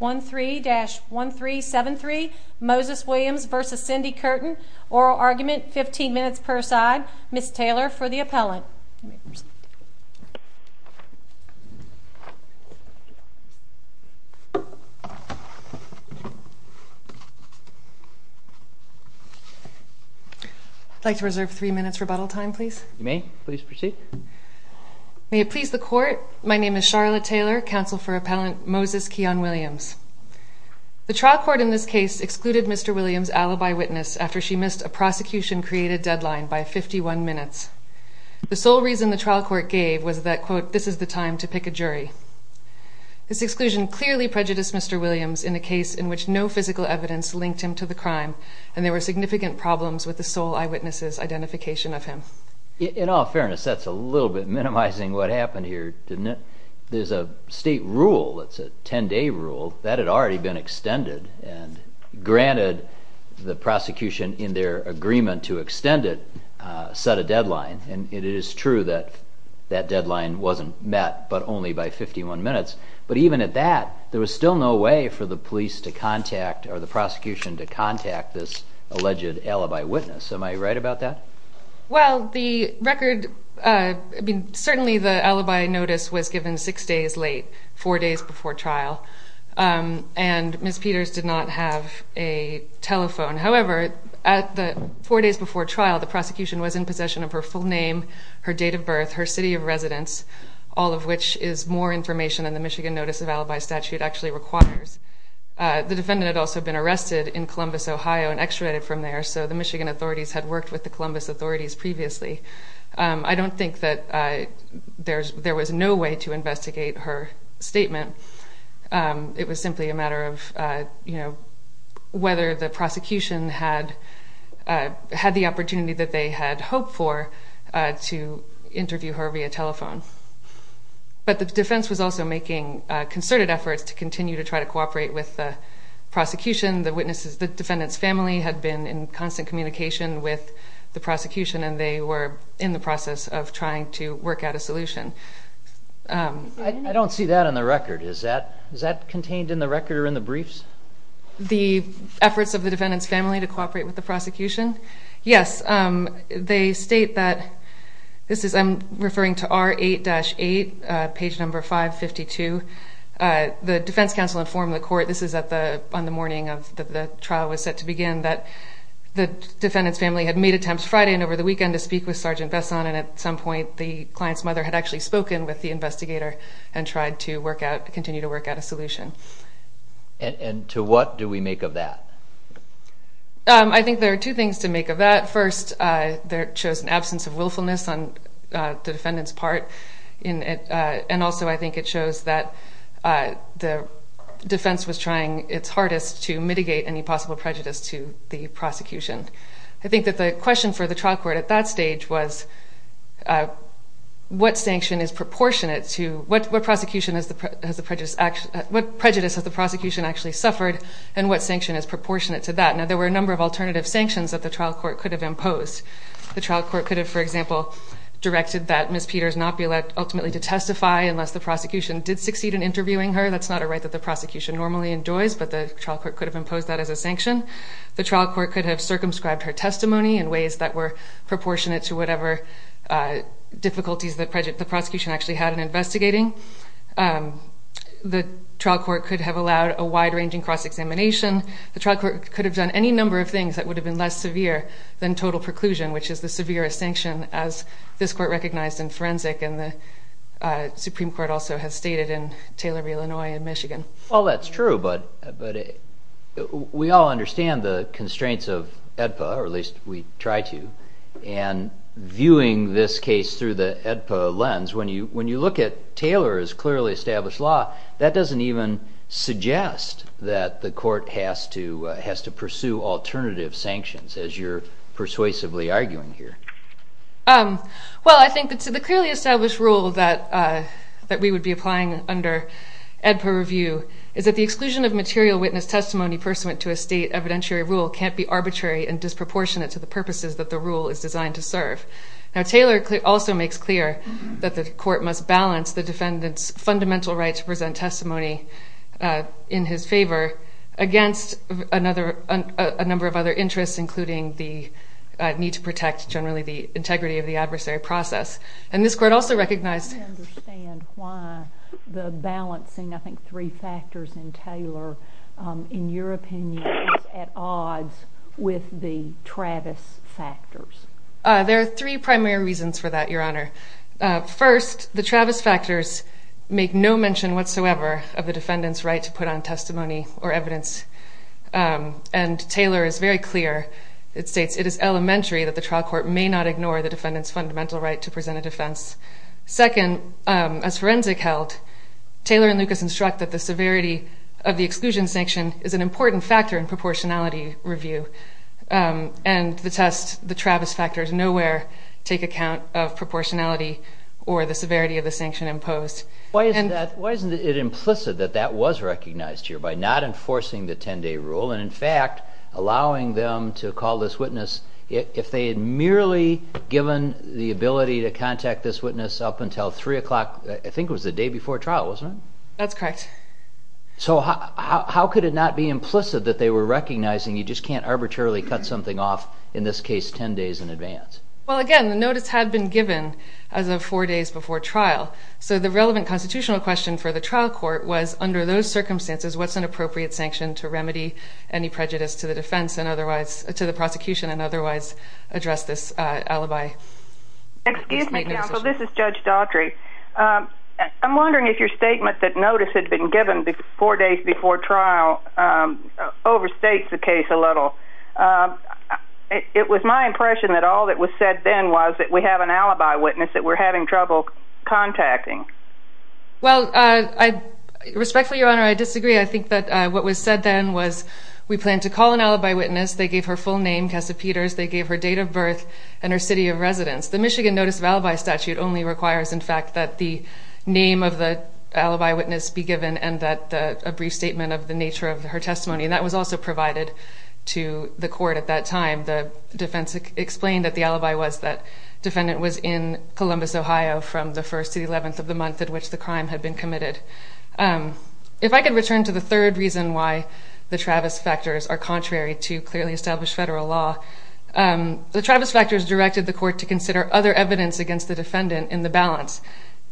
13-1373 Moses Williams v. Cindi Curtin Oral argument, 15 minutes per side. Ms. Taylor for the appellant. I'd like to reserve 3 minutes rebuttal time please. You may, please proceed. May it please the court, my name is Charlotte Taylor, counsel for appellant Moses Keyon Williams. The trial court in this case excluded Mr. Williams' alibi witness after she missed a prosecution-created deadline by 51 minutes. The sole reason the trial court gave was that, quote, this is the time to pick a jury. This exclusion clearly prejudiced Mr. Williams in a case in which no physical evidence linked him to the crime, and there were significant problems with the sole eyewitness' identification of him. In all fairness, that's a little bit minimizing what happened here, isn't it? There's a state rule, it's a 10-day rule, that had already been extended, and granted the prosecution in their agreement to extend it set a deadline, and it is true that that deadline wasn't met but only by 51 minutes, but even at that, there was still no way for the police to contact, or the prosecution to contact this alleged alibi witness. Am I right about that? Well, the record, I mean, certainly the alibi notice was given 6 days late, 4 days before trial, and Ms. Peters did not have a telephone. However, at the 4 days before trial, the prosecution was in possession of her full name, her date of birth, her city of residence, all of which is more information than the Michigan notice of alibi statute actually requires. The defendant had also been arrested in Columbus, Ohio, and extradited from there, so the Michigan authorities had worked with the Columbus authorities previously. I don't think that there was no way to investigate her statement. It was simply a matter of whether the prosecution had the opportunity that they had hoped for to interview her via telephone. But the defense was also making concerted efforts to continue to try to cooperate with the prosecution. The witnesses, the defendant's family, had been in constant communication with the prosecution, and they were in the process of trying to work out a solution. I don't see that on the record. Is that contained in the record or in the briefs? The efforts of the defendant's family to cooperate with the prosecution? Yes. They state that this is, I'm referring to R8-8, page number 552. The defense counsel informed the court, this is on the morning of the trial was set to begin, that the defendant's family had made attempts Friday and over the weekend to speak with Sergeant Besson, and at some point the client's mother had actually spoken with the investigator and tried to continue to work out a solution. And to what do we make of that? I think there are two things to make of that. First, there shows an absence of willfulness on the defendant's part, and also I think it shows that the defense was trying its hardest to mitigate any possible prejudice to the prosecution. I think that the question for the trial court at that stage was what sanction is proportionate to, what prejudice has the prosecution actually suffered, and what sanction is proportionate to that? Now, there were a number of alternative sanctions that the trial court could have imposed. The trial court could have, for example, directed that Ms. Peters not be allowed ultimately to testify unless the prosecution did succeed in interviewing her. That's not a right that the prosecution normally enjoys, but the trial court could have imposed that as a sanction. The trial court could have circumscribed her testimony in ways that were proportionate to whatever difficulties the prosecution actually had in investigating. The trial court could have allowed a wide-ranging cross-examination. The trial court could have done any number of things that would have been less severe than total preclusion, which is the severest sanction, as this court recognized in forensic, and the Supreme Court also has stated in Taylor v. Illinois and Michigan. Well, that's true, but we all understand the constraints of AEDPA, or at least we try to, and viewing this case through the AEDPA lens, when you look at Taylor's clearly established law, that doesn't even suggest that the court has to pursue alternative sanctions, as you're persuasively arguing here. Well, I think that the clearly established rule that we would be applying under AEDPA review is that the exclusion of material witness testimony pursuant to a state evidentiary rule can't be arbitrary and disproportionate to the purposes that the rule is designed to serve. Now, Taylor also makes clear that the court must balance the defendant's fundamental right to present testimony in his favor against a number of other interests, including the need to protect, generally, the integrity of the adversary process. And this court also recognized... I don't understand why the balancing, I think, three factors in Taylor, in your opinion, is at odds with the Travis factors. There are three primary reasons for that, Your Honor. First, the Travis factors make no mention whatsoever of the defendant's right to put on testimony or evidence, and Taylor is very clear. It states, it is elementary that the trial court may not ignore the defendant's fundamental right to present a defense. Second, as forensic held, Taylor and Lucas instruct that the severity of the exclusion sanction is an important factor in proportionality review. And the test, the Travis factors, nowhere take account of proportionality or the severity of the sanction imposed. Why isn't it implicit that that was recognized here by not enforcing the 10-day rule and, in fact, allowing them to call this witness if they had merely given the ability to contact this witness up until 3 o'clock, I think it was the day before trial, wasn't it? That's correct. So how could it not be implicit that they were recognizing you just can't arbitrarily cut something off, in this case, 10 days in advance? Well, again, the notice had been given as of four days before trial, so the relevant constitutional question for the trial court was, under those circumstances, what's an appropriate sanction to remedy any prejudice to the defense and otherwise, to the prosecution and otherwise address this alibi? Excuse me, counsel, this is Judge Daughtry. I'm wondering if your statement that notice had been given four days before trial overstates the case a little. It was my impression that all that was said then was that we have an alibi witness that we're having trouble contacting. Well, respectfully, Your Honor, I disagree. I think that what was said then was we plan to call an alibi witness. They gave her full name, Cassa Peters. They gave her date of birth and her city of residence. The Michigan Notice of Alibi Statute only requires, in fact, that the name of the alibi witness be given and that a brief statement of the nature of her testimony. That was also provided to the court at that time. The defense explained that the alibi was that defendant was in Columbus, Ohio, from the 1st to the 11th of the month at which the crime had been committed. If I could return to the third reason why the Travis factors are contrary to clearly established federal law, the Travis factors directed the court to consider other evidence against the defendant in the balance.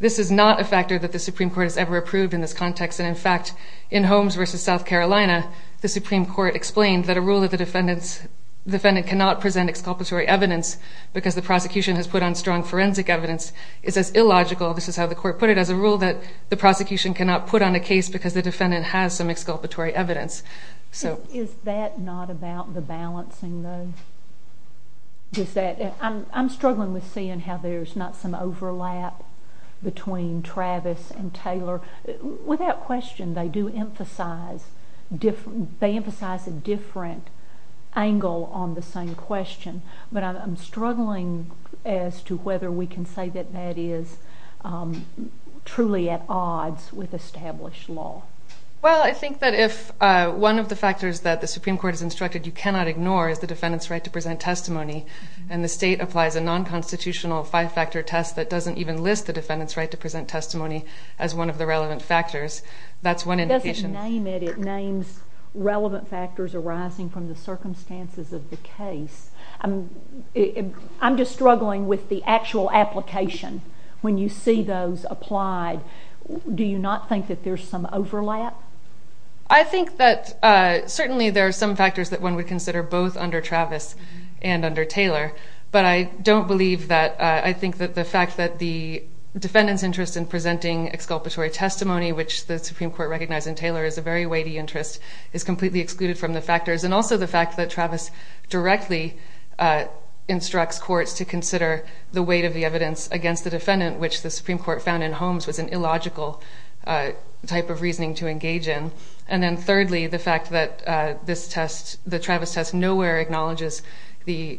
This is not a factor that the Supreme Court has ever approved in this context, and, in fact, in Holmes v. South Carolina, the Supreme Court explained that a rule that the defendant cannot present exculpatory evidence because the prosecution has put on strong forensic evidence is as illogical, this is how the court put it, as a rule that the prosecution cannot put on a case because the defendant has some exculpatory evidence. Is that not about the balancing, though? I'm struggling with seeing how there's not some overlap between Travis and Taylor. Without question, they do emphasize a different angle on the same question, but I'm struggling as to whether we can say that that is truly at odds with established law. Well, I think that if one of the factors that the Supreme Court has instructed you cannot ignore is the defendant's right to present testimony, and the state applies a non-constitutional five-factor test that doesn't even list the defendant's right to present testimony as one of the relevant factors, that's one indication. It doesn't name it, it names relevant factors arising from the circumstances of the case. I'm just struggling with the actual application. When you see those applied, do you not think that there's some overlap? I think that certainly there are some factors that one would consider both under Travis and under Taylor, but I don't believe that. I think that the fact that the defendant's interest in presenting exculpatory testimony, which the Supreme Court recognized in Taylor is a very weighty interest, is completely excluded from the factors, and also the fact that Travis directly instructs courts to consider the weight of the evidence against the defendant, which the Supreme Court found in Holmes was an illogical type of reasoning to engage in. And then thirdly, the fact that this test, the Travis test, nowhere acknowledges the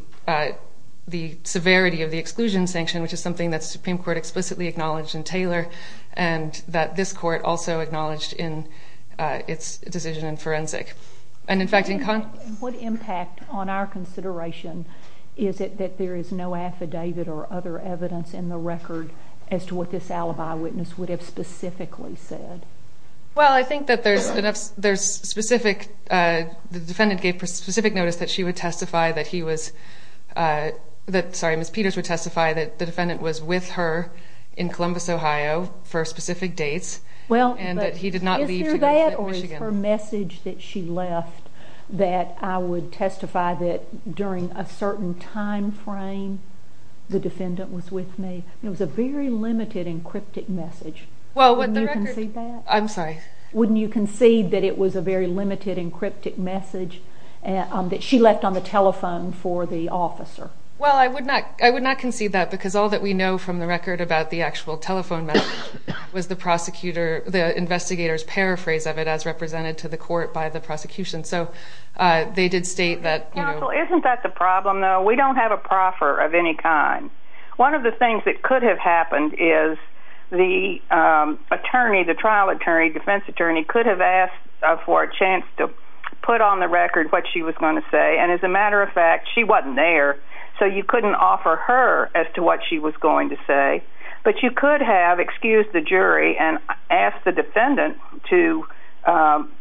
severity of the exclusion sanction, which is something that the Supreme Court explicitly acknowledged in Taylor, and that this court also acknowledged in its decision in forensic. What impact on our consideration is it that there is no affidavit or other evidence in the record as to what this alibi witness would have specifically said? Well, I think that there's specific, the defendant gave specific notice that she would testify that he was, sorry, Ms. Peters would testify that the defendant was with her in Columbus, Ohio for specific dates, and that he did not leave to go to Michigan. Is that or is her message that she left that I would testify that during a certain time frame, the defendant was with me, it was a very limited and cryptic message. Well, what the record... Wouldn't you concede that? I'm sorry. Wouldn't you concede that it was a very limited and cryptic message that she left on the telephone for the officer? Well, I would not concede that because all that we know from the record about the actual telephone message was the investigator's paraphrase of it as represented to the court by the prosecution. So they did state that... Counsel, isn't that the problem, though? We don't have a proffer of any kind. One of the things that could have happened is the attorney, the trial attorney, defense attorney, could have asked for a chance to put on the record what she was going to say, and as a matter of fact, she wasn't there, so you couldn't offer her as to what she was going to say. But you could have excused the jury and asked the defendant to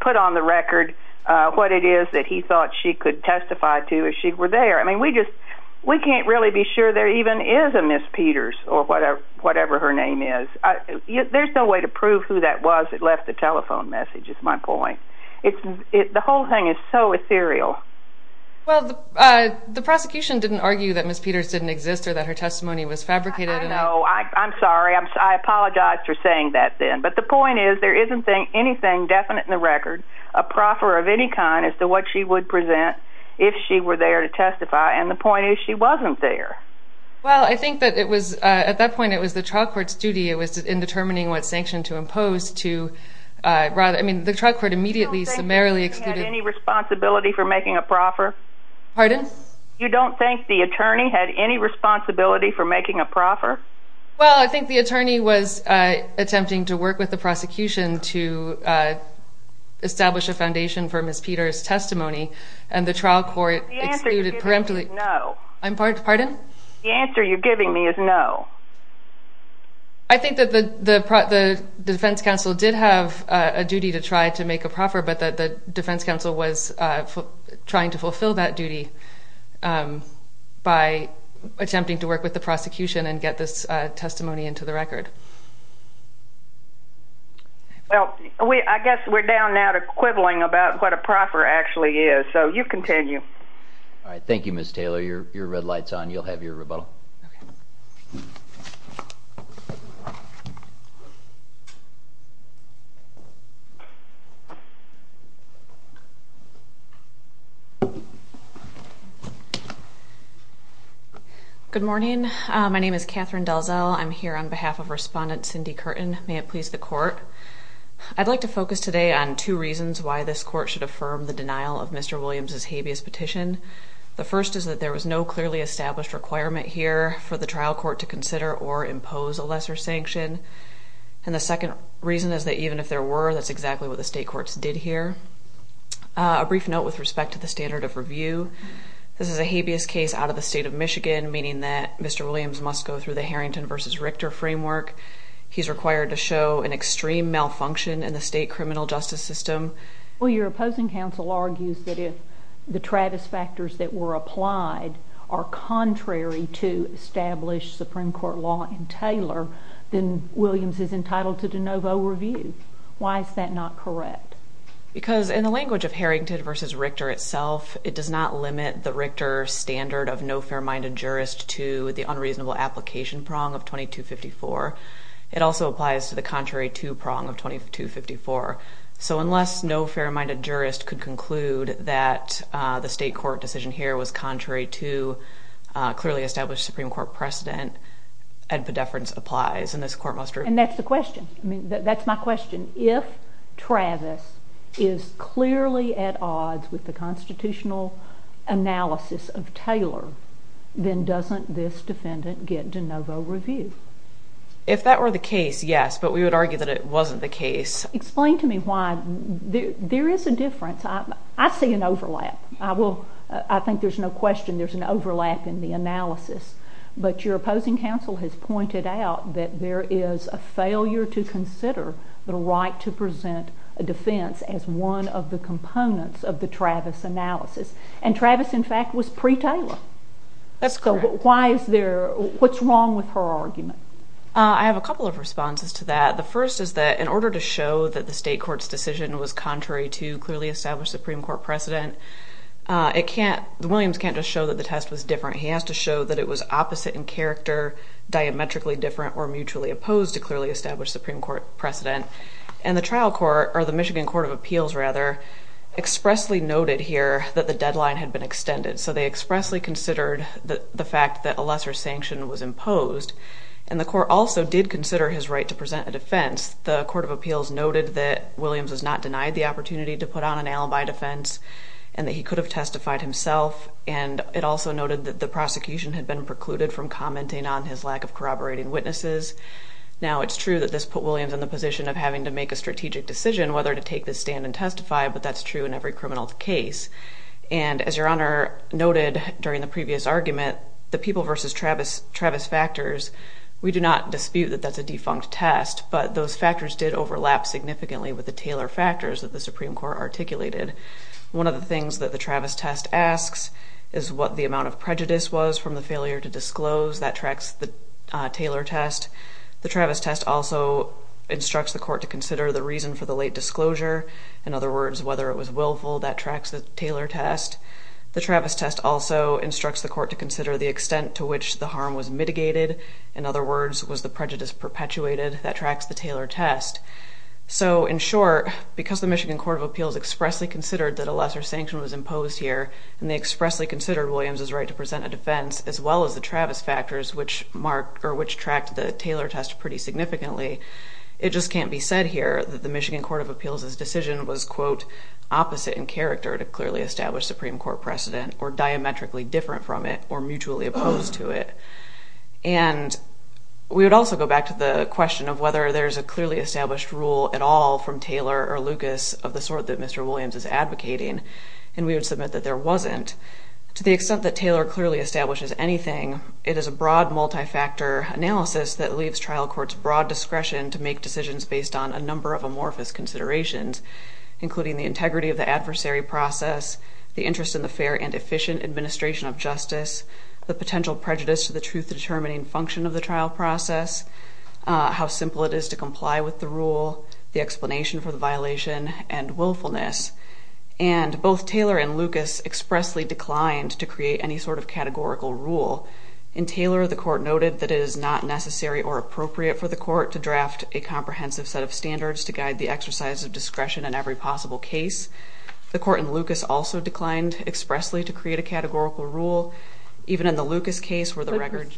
put on the record what it is that he thought she could testify to if she were there. I mean, we can't really be sure there even is a Ms. Peters or whatever her name is. There's no way to prove who that was that left the telephone message, is my point. The whole thing is so ethereal. Well, the prosecution didn't argue that Ms. Peters didn't exist or that her testimony was fabricated. No, I'm sorry. I apologize for saying that then. But the point is there isn't anything definite in the record, a proffer of any kind, as to what she would present if she were there to testify, and the point is she wasn't there. Well, I think that at that point it was the trial court's duty, it was in determining what sanction to impose to rather... I mean, the trial court immediately summarily excluded... You don't think the attorney had any responsibility for making a proffer? Pardon? Well, I think the attorney was attempting to work with the prosecution to establish a foundation for Ms. Peters' testimony, and the trial court excluded... The answer you're giving me is no. Pardon? The answer you're giving me is no. I think that the defense counsel did have a duty to try to make a proffer, but that the defense counsel was trying to fulfill that duty by attempting to work with the prosecution and get this testimony into the record. Well, I guess we're down now to quibbling about what a proffer actually is, so you continue. All right. Thank you, Ms. Taylor. Your red light's on. You'll have your rebuttal. Okay. Good morning. My name is Catherine Delzel. I'm here on behalf of Respondent Cindy Curtin. May it please the court, I'd like to focus today on two reasons why this court should affirm the denial of Mr. Williams' habeas petition. The first is that there was no clearly established requirement here for the trial court to consider or impose a lesser sanction, and the second reason is that even if there were, that's exactly what the state courts did here. A brief note with respect to the standard of review. This is a habeas case out of the state of Michigan, meaning that Mr. Williams must go through the Harrington v. Richter framework. He's required to show an extreme malfunction in the state criminal justice system. Well, your opposing counsel argues that if the Travis factors that were applied are contrary to established Supreme Court law in Taylor, then Williams is entitled to de novo review. Why is that not correct? Because in the language of Harrington v. Richter itself, it does not limit the Richter standard of no fair-minded jurist to the unreasonable application prong of 2254. It also applies to the contrary-to prong of 2254. So unless no fair-minded jurist could conclude that the state court decision here was contrary to clearly established Supreme Court precedent, epidefference applies, and this court must review. And that's the question. That's my question. If Travis is clearly at odds with the constitutional analysis of Taylor, then doesn't this defendant get de novo review? If that were the case, yes, but we would argue that it wasn't the case. Explain to me why. There is a difference. I see an overlap. I think there's no question there's an overlap in the analysis. But your opposing counsel has pointed out that there is a failure to consider the right to present a defense as one of the components of the Travis analysis. And Travis, in fact, was pre-Taylor. That's correct. So why is there—what's wrong with her argument? I have a couple of responses to that. The first is that in order to show that the state court's decision was contrary to clearly established Supreme Court precedent, it can't—Williams can't just show that the test was different. He has to show that it was opposite in character, diametrically different, or mutually opposed to clearly established Supreme Court precedent. And the trial court—or the Michigan Court of Appeals, rather, expressly noted here that the deadline had been extended. So they expressly considered the fact that a lesser sanction was imposed. And the court also did consider his right to present a defense. The Court of Appeals noted that Williams was not denied the opportunity to put on an alibi defense and that he could have testified himself. And it also noted that the prosecution had been precluded from commenting on his lack of corroborating witnesses. Now, it's true that this put Williams in the position of having to make a strategic decision whether to take the stand and testify, but that's true in every criminal case. And as Your Honor noted during the previous argument, the people versus Travis factors, we do not dispute that that's a defunct test, but those factors did overlap significantly with the Taylor factors that the Supreme Court articulated. One of the things that the Travis test asks is what the amount of prejudice was from the failure to disclose. That tracks the Taylor test. The Travis test also instructs the court to consider the reason for the late disclosure. In other words, whether it was willful. That tracks the Taylor test. The Travis test also instructs the court to consider the extent to which the harm was mitigated. In other words, was the prejudice perpetuated? That tracks the Taylor test. So, in short, because the Michigan Court of Appeals expressly considered that a lesser sanction was imposed here, and they expressly considered Williams' right to present a defense, as well as the Travis factors, which tracked the Taylor test pretty significantly, it just can't be said here that the Michigan Court of Appeals' decision was, quote, opposite in character to clearly establish Supreme Court precedent, or diametrically different from it, or mutually opposed to it. And we would also go back to the question of whether there's a clearly established rule at all from Taylor or Lucas of the sort that Mr. Williams is advocating, and we would submit that there wasn't. To the extent that Taylor clearly establishes anything, it is a broad multi-factor analysis that leaves trial courts broad discretion to make decisions based on a number of amorphous considerations, including the integrity of the adversary process, the interest in the fair and efficient administration of justice, the potential prejudice to the truth-determining function of the trial process, how simple it is to comply with the rule, the explanation for the violation, and willfulness. And both Taylor and Lucas expressly declined to create any sort of categorical rule. In Taylor, the court noted that it is not necessary or appropriate for the court to draft a comprehensive set of standards to guide the exercise of discretion in every possible case. The court in Lucas also declined expressly to create a categorical rule. Even in the Lucas case where the record...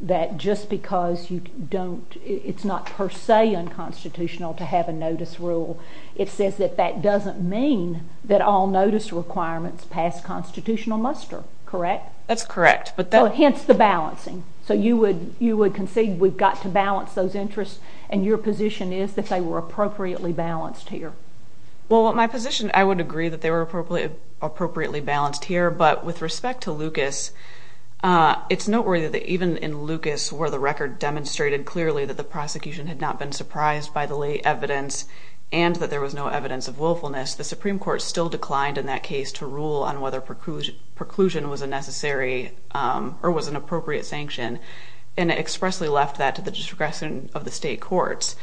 that just because you don't... it's not per se unconstitutional to have a notice rule. It says that that doesn't mean that all notice requirements pass constitutional muster, correct? That's correct. So hence the balancing. So you would concede we've got to balance those interests, and your position is that they were appropriately balanced here. Well, my position, I would agree that they were appropriately balanced here, but with respect to Lucas, it's noteworthy that even in Lucas where the record demonstrated clearly that the prosecution had not been surprised by the late evidence and that there was no evidence of willfulness, the Supreme Court still declined in that case to rule on whether preclusion was a necessary or was an appropriate sanction, and expressly left that to the discretion of the state courts.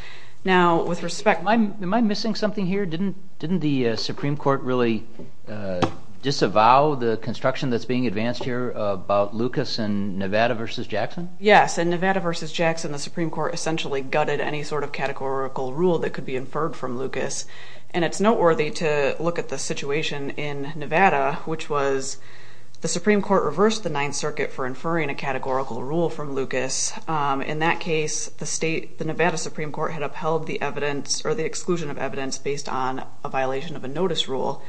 Now, with respect... am I missing something here? Didn't the Supreme Court really disavow the construction that's being advanced here about Lucas and Nevada v. Jackson? Yes, in Nevada v. Jackson, the Supreme Court essentially gutted any sort of categorical rule that could be inferred from Lucas, and it's noteworthy to look at the situation in Nevada, which was the Supreme Court reversed the Ninth Circuit for inferring a categorical rule from Lucas. In that case, the Nevada Supreme Court had upheld the evidence based on a violation of a notice rule,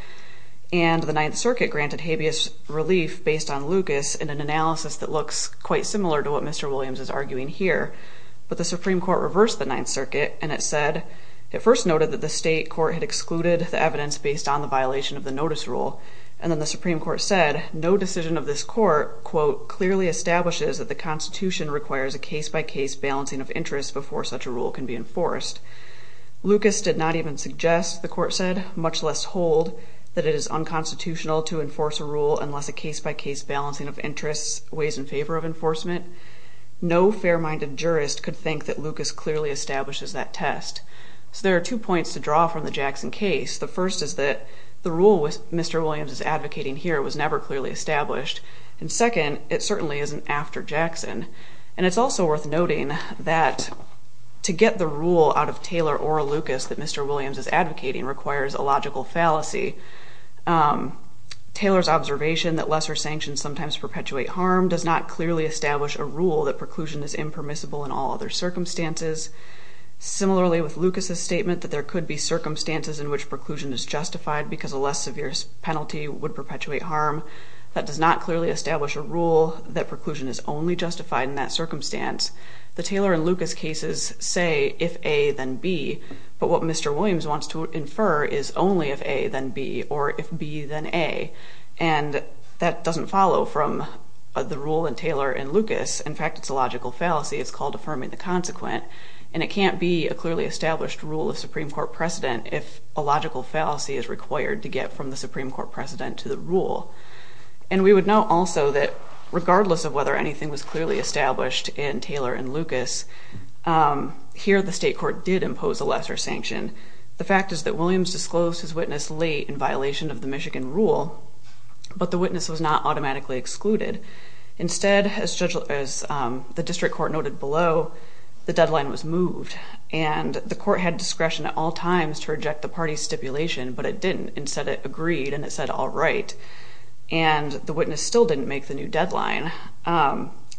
and the Ninth Circuit granted habeas relief based on Lucas in an analysis that looks quite similar to what Mr. Williams is arguing here. But the Supreme Court reversed the Ninth Circuit, and it said... it first noted that the state court had excluded the evidence based on the violation of the notice rule, and then the Supreme Court said, no decision of this court, quote, clearly establishes that the Constitution requires a case-by-case balancing of interests before such a rule can be enforced. Lucas did not even suggest, the court said, much less hold, that it is unconstitutional to enforce a rule unless a case-by-case balancing of interests weighs in favor of enforcement. No fair-minded jurist could think that Lucas clearly establishes that test. So there are two points to draw from the Jackson case. The first is that the rule Mr. Williams is advocating here was never clearly established. And second, it certainly isn't after Jackson. And it's also worth noting that to get the rule out of Taylor or Lucas that Mr. Williams is advocating requires a logical fallacy. Taylor's observation that lesser sanctions sometimes perpetuate harm does not clearly establish a rule that preclusion is impermissible in all other circumstances. Similarly with Lucas's statement that there could be circumstances in which preclusion is justified because a less severe penalty would perpetuate harm. That does not clearly establish a rule that preclusion is only justified in that circumstance. The Taylor and Lucas cases say if A then B, but what Mr. Williams wants to infer is only if A then B or if B then A. And that doesn't follow from the rule in Taylor and Lucas. In fact, it's a logical fallacy. It's called affirming the consequent. And it can't be a clearly established rule of Supreme Court precedent if a logical fallacy is required to get from the Supreme Court precedent to the rule. And we would note also that regardless of whether anything was clearly established in Taylor and Lucas, here the state court did impose a lesser sanction. The fact is that Williams disclosed his witness late in violation of the Michigan rule, but the witness was not automatically excluded. Instead, as the district court noted below, the deadline was moved. And the court had discretion at all times to reject the party's stipulation, but it didn't. Instead, it agreed and it said all right. And the witness still didn't make the new deadline.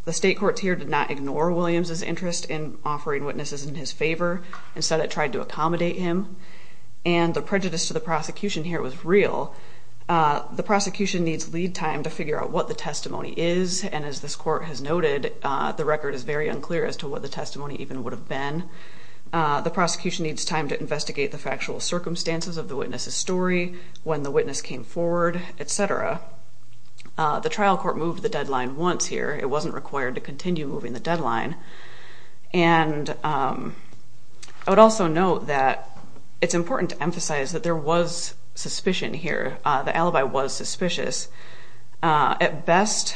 The state courts here did not ignore Williams's interest in offering witnesses in his favor. Instead, it tried to accommodate him. And the prejudice to the prosecution here was real. The prosecution needs lead time to figure out what the testimony is. And as this court has noted, the record is very unclear as to what the testimony even would have been. The prosecution needs time to investigate the factual circumstances of the witness's story, when the witness came forward, et cetera. The trial court moved the deadline once here. It wasn't required to continue moving the deadline. And I would also note that it's important to emphasize that there was suspicion here. The alibi was suspicious. At best,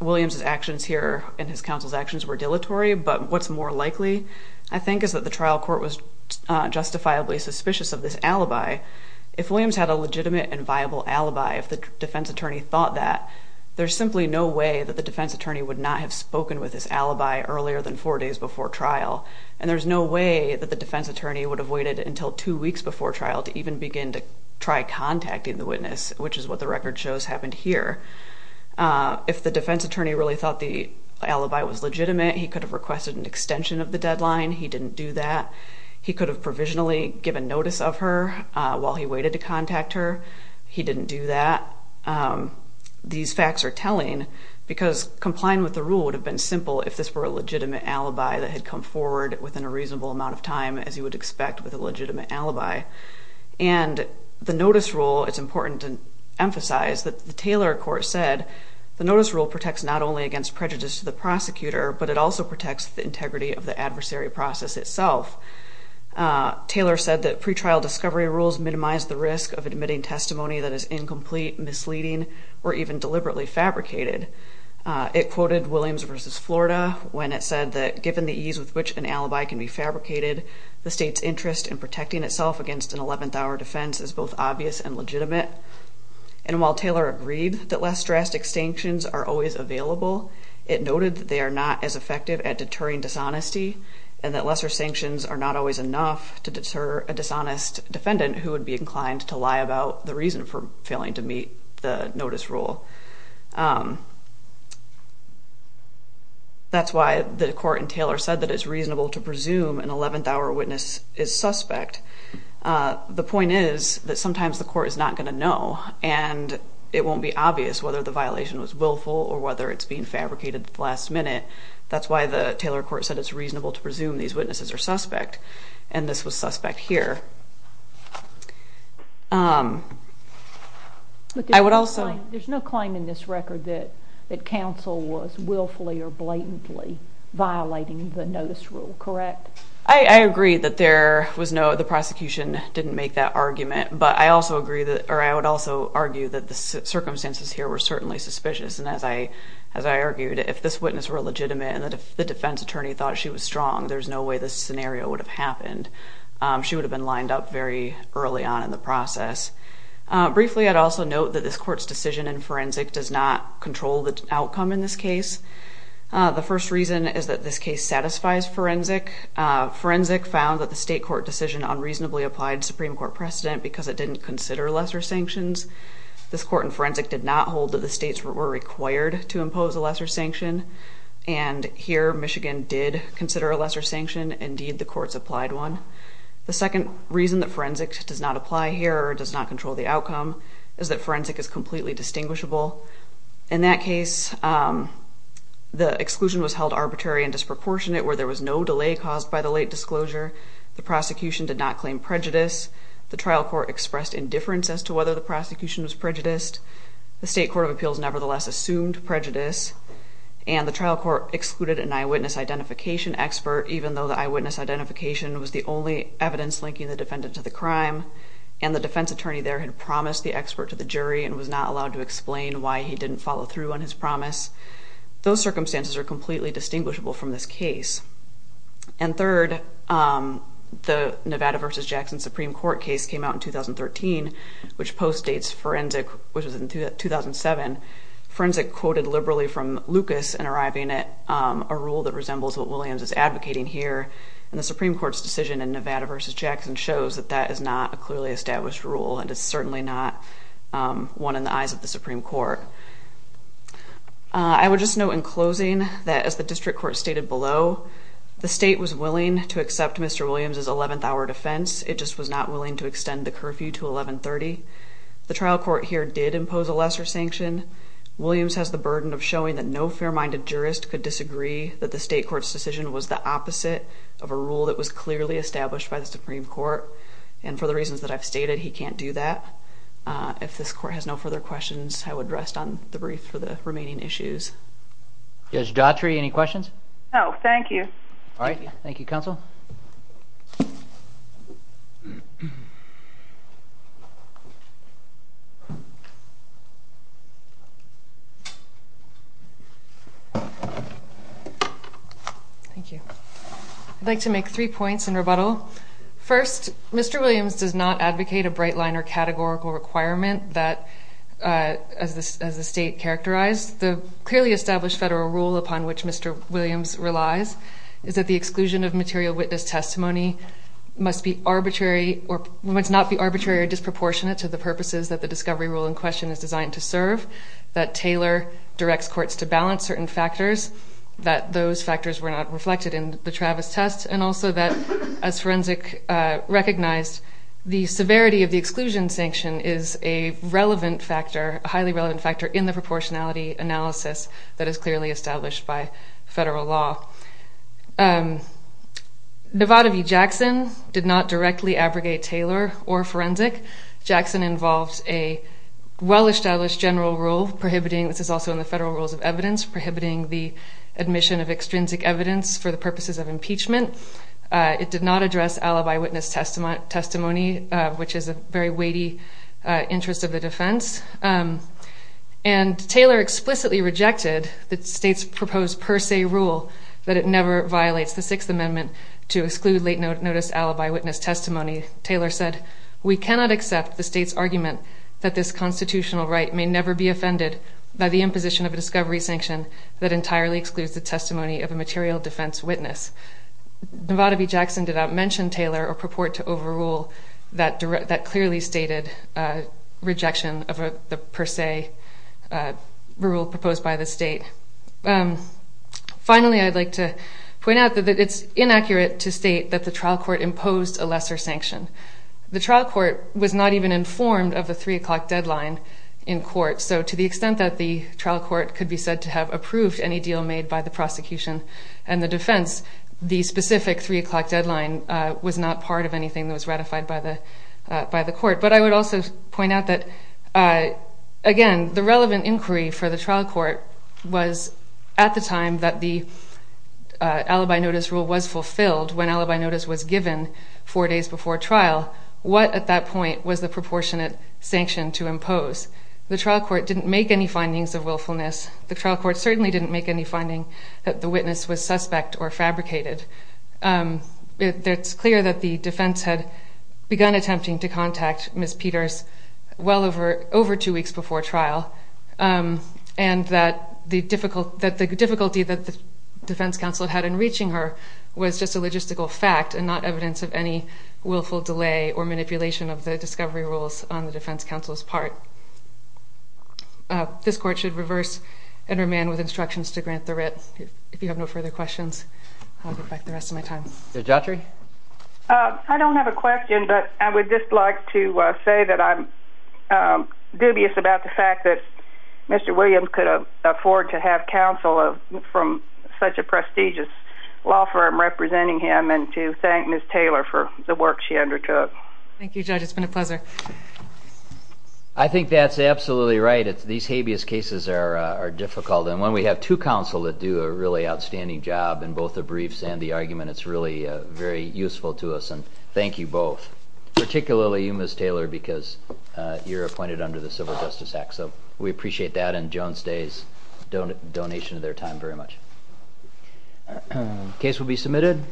Williams's actions here and his counsel's actions were dilatory, but what's more likely, I think, is that the trial court was justifiably suspicious of this alibi. If Williams had a legitimate and viable alibi, if the defense attorney thought that, there's simply no way that the defense attorney would not have spoken with this alibi earlier than four days before trial. And there's no way that the defense attorney would have waited until two weeks before trial to even begin to try contacting the witness, which is what the record shows happened here. If the defense attorney really thought the alibi was legitimate, he could have requested an extension of the deadline. He didn't do that. He could have provisionally given notice of her while he waited to contact her. He didn't do that. These facts are telling because complying with the rule would have been simple if this were a legitimate alibi that had come forward within a reasonable amount of time, as you would expect with a legitimate alibi. And the notice rule, it's important to emphasize that the Taylor court said the notice rule protects not only against prejudice to the prosecutor, but it also protects the integrity of the adversary process itself. Taylor said that pretrial discovery rules minimize the risk of admitting testimony that is incomplete, misleading, or even deliberately fabricated. It quoted Williams v. Florida when it said that given the ease with which an alibi can be fabricated, the state's interest in protecting itself against an 11th-hour defense is both obvious and legitimate. And while Taylor agreed that less drastic sanctions are always available, it noted that they are not as effective at deterring dishonesty and that lesser sanctions are not always enough to deter a dishonest defendant who would be inclined to lie about the reason for failing to meet the notice rule. That's why the court in Taylor said that it's reasonable to presume an 11th-hour witness is suspect. The point is that sometimes the court is not going to know, and it won't be obvious whether the violation was willful or whether it's being fabricated at the last minute. That's why the Taylor court said it's reasonable to presume these witnesses are suspect, and this was suspect here. I would also... There's no claim in this record that counsel was willfully or blatantly violating the notice rule, correct? I agree that there was no... the prosecution didn't make that argument, but I also agree that... or I would also argue that the circumstances here were certainly suspicious, and as I... as I argued, if this witness were legitimate and the defense attorney thought she was strong, there's no way this scenario would have happened. She would have been lined up very early on in the process. Briefly, I'd also note that this court's decision in forensic does not control the outcome in this case. The first reason is that this case satisfies forensic. Forensic found that the state court decision unreasonably applied Supreme Court precedent because it didn't consider lesser sanctions. This court in forensic did not hold that the states were required to impose a lesser sanction, and here, Michigan did consider a lesser sanction. Indeed, the courts applied one. The second reason that forensic does not apply here or does not control the outcome is that forensic is completely distinguishable. In that case, the exclusion was held arbitrary and disproportionate, where there was no delay caused by the late disclosure. The prosecution did not claim prejudice. The trial court expressed indifference as to whether the prosecution was prejudiced. The state court of appeals nevertheless assumed prejudice, and the trial court excluded an eyewitness identification expert, even though the eyewitness identification was the only evidence linking the defendant to the crime, and the defense attorney there had promised the expert to the jury and was not allowed to explain why he didn't follow through on his promise. Those circumstances are completely distinguishable from this case. And third, the Nevada v. Jackson Supreme Court case came out in 2013, which postdates forensic, which was in 2007. Forensic quoted liberally from Lucas in arriving at a rule that resembles what Williams is advocating here, and the Supreme Court's decision in Nevada v. Jackson shows that that is not a clearly established rule, and it's certainly not one in the eyes of the Supreme Court. I would just note in closing that as the district court stated below, the state was willing to accept Mr. Williams' 11th hour defense, it just was not willing to extend the curfew to 1130. The trial court here did impose a lesser sanction. Williams has the burden of showing that no fair-minded jurist could disagree that the state court's decision was the opposite of a rule that was clearly established by the Supreme Court, and for the reasons that I've stated, he can't do that. If this court has no further questions, I would rest on the brief for the remaining issues. Judge Daughtry, any questions? No, thank you. Thank you, Counsel. Thank you. I'd like to make three points in rebuttal. First, Mr. Williams does not advocate a bright-liner categorical requirement that, as the clearly established federal rule upon which Mr. Williams relies, is that the exclusion of material witness testimony must not be arbitrary or disproportionate to the purposes that the discovery rule in question is designed to serve, that Taylor directs courts to balance certain factors, that those factors were not reflected in the Travis test, and also that, as Forensic recognized, the severity of the exclusion sanction is a relevant factor, a highly relevant factor in the proportionality analysis that is clearly established by federal law. Nevada v. Jackson did not directly abrogate Taylor or Forensic. Jackson involves a well-established general rule prohibiting, this is also in the federal rules of evidence, prohibiting the admission of extrinsic evidence for the purposes of impeachment. It did not address alibi witness testimony, which is a very weighty interest of the state. And Taylor explicitly rejected the state's proposed per se rule that it never violates the Sixth Amendment to exclude late notice alibi witness testimony. Taylor said, we cannot accept the state's argument that this constitutional right may never be offended by the imposition of a discovery sanction that entirely excludes the testimony of a material defense witness. Nevada v. Jackson did not mention Taylor or purport to overrule that clearly stated rejection of the per se rule proposed by the state. Finally, I'd like to point out that it's inaccurate to state that the trial court imposed a lesser sanction. The trial court was not even informed of the 3 o'clock deadline in court, so to the extent that the trial court could be said to have approved any deal made by the prosecution and the defense, the specific 3 o'clock deadline was not part of anything that was ratified by the court. But I would also point out that again, the relevant inquiry for the trial court was at the time that the alibi notice rule was fulfilled, when alibi notice was given 4 days before trial, what at that point was the proportionate sanction to impose? The trial court didn't make any findings of willfulness. The trial court certainly didn't make any finding that the witness was suspect or fabricated. It's clear that the defense had begun attempting to contact Ms. Peters well over 2 weeks before trial, and that the difficulty that the defense counsel had in reaching her was just a logistical fact and not evidence of any willful delay or manipulation of the discovery rules on the defense counsel's part. This court should reverse and remand with instructions to grant the writ. If you have no further questions, I'll get back to you for the rest of my time. Judge Autry? I don't have a question, but I would just like to say that I'm dubious about the fact that Mr. Williams could afford to have counsel from such a prestigious law firm representing him, and to thank Ms. Taylor for the work she undertook. Thank you, Judge. It's been a pleasure. I think that's absolutely right. These habeas cases are difficult, and when we have two counsel that do a really good argument, it's really very useful to us, and thank you both. Particularly you, Ms. Taylor, because you're appointed under the Civil Justice Act, so we appreciate that and Jones Day's very much. Case will be submitted.